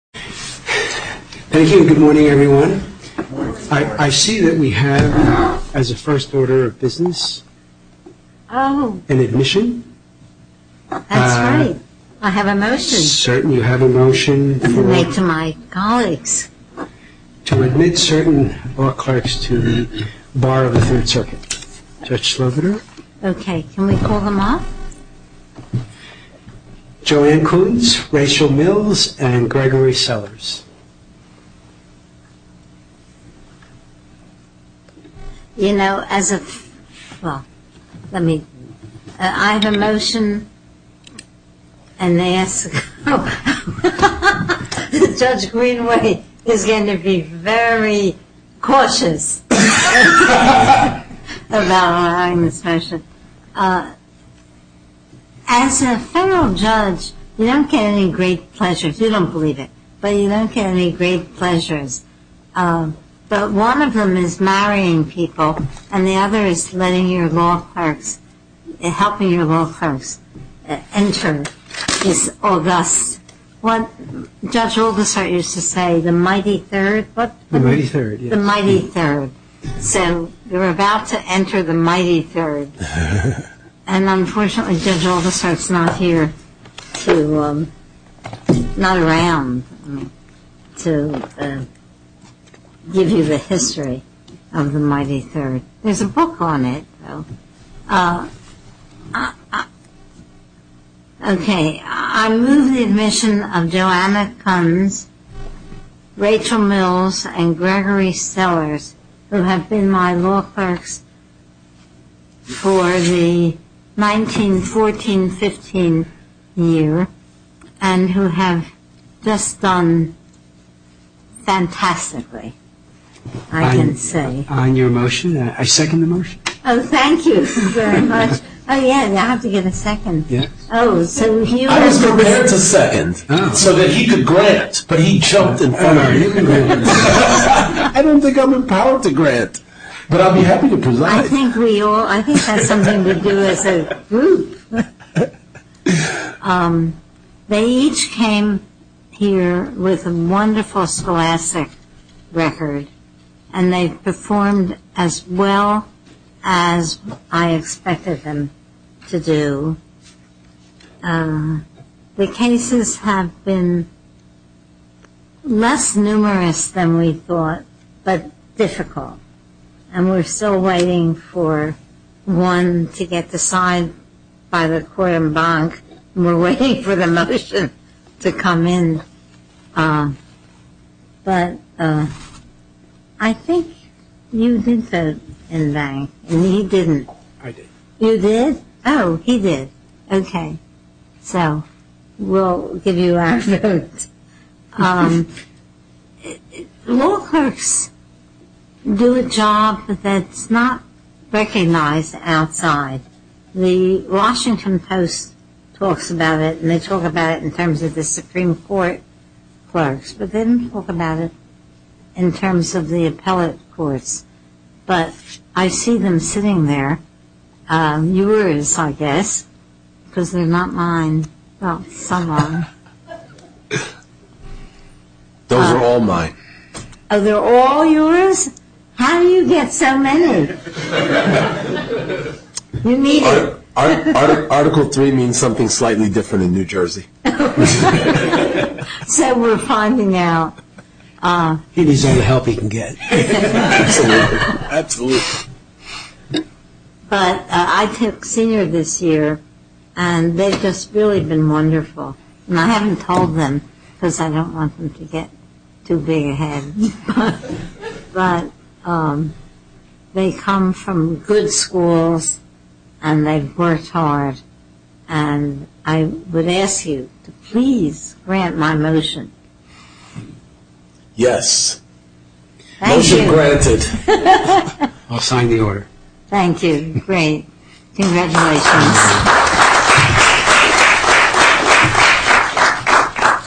Thank you and good morning everyone. I see that we have, as a first order of business, an admission. That's right. I have a motion. You have a motion. To make to my colleagues. To admit certain law clerks to the Bar of the Third Circuit. Judge Sloviter. Okay, can we call them up? Joanne Coons, Rachel Mills, and Gregory Sellers. You know, as of, well, let me, I have a motion. And they ask, Judge Greenway is going to be very cautious about allowing this motion. As a federal judge, you don't get any great pleasures. You don't believe it. But you don't get any great pleasures. But one of them is marrying people, and the other is letting your law clerks, helping your law clerks enter this august. Judge Oldisard used to say, the mighty third, what? The mighty third, yes. The mighty third. So, you're about to enter the mighty third. And unfortunately, Judge Oldisard's not here to, not around to give you the history of the mighty third. There's a book on it, though. Okay. I move the admission of Joanne Coons, Rachel Mills, and Gregory Sellers, who have been my law clerks for the 1914-15 year, and who have just done fantastically, I can say. On your motion? I second the motion. Oh, thank you very much. Oh, yeah, I have to give a second. I was prepared to second, so that he could grant, but he jumped in front of me. I don't think I'm empowered to grant, but I'll be happy to preside. I think that's something we do as a group. They each came here with a wonderful scholastic record, and they performed as well as I expected them to do. The cases have been less numerous than we thought, but difficult. And we're still waiting for one to get the sign by the Quorum Bank. We're waiting for the motion to come in. But I think you did vote in vain, and he didn't. I did. You did? Oh, he did. Okay. So we'll give you our vote. Law clerks do a job that's not recognized outside. The Washington Post talks about it, and they talk about it in terms of the Supreme Court clerks, but they don't talk about it in terms of the appellate courts. But I see them sitting there. Yours, I guess, because they're not mine. Well, some are. Those are all mine. Oh, they're all yours? How do you get so many? Article 3 means something slightly different in New Jersey. So we're finding out. He needs all the help he can get. Absolutely. Absolutely. But I took senior this year, and they've just really been wonderful. And I haven't told them because I don't want them to get too big a head. But they come from good schools, and they've worked hard. And I would ask you to please grant my motion. Yes. Thank you. Motion granted. I'll sign the order. Thank you. Great. Congratulations.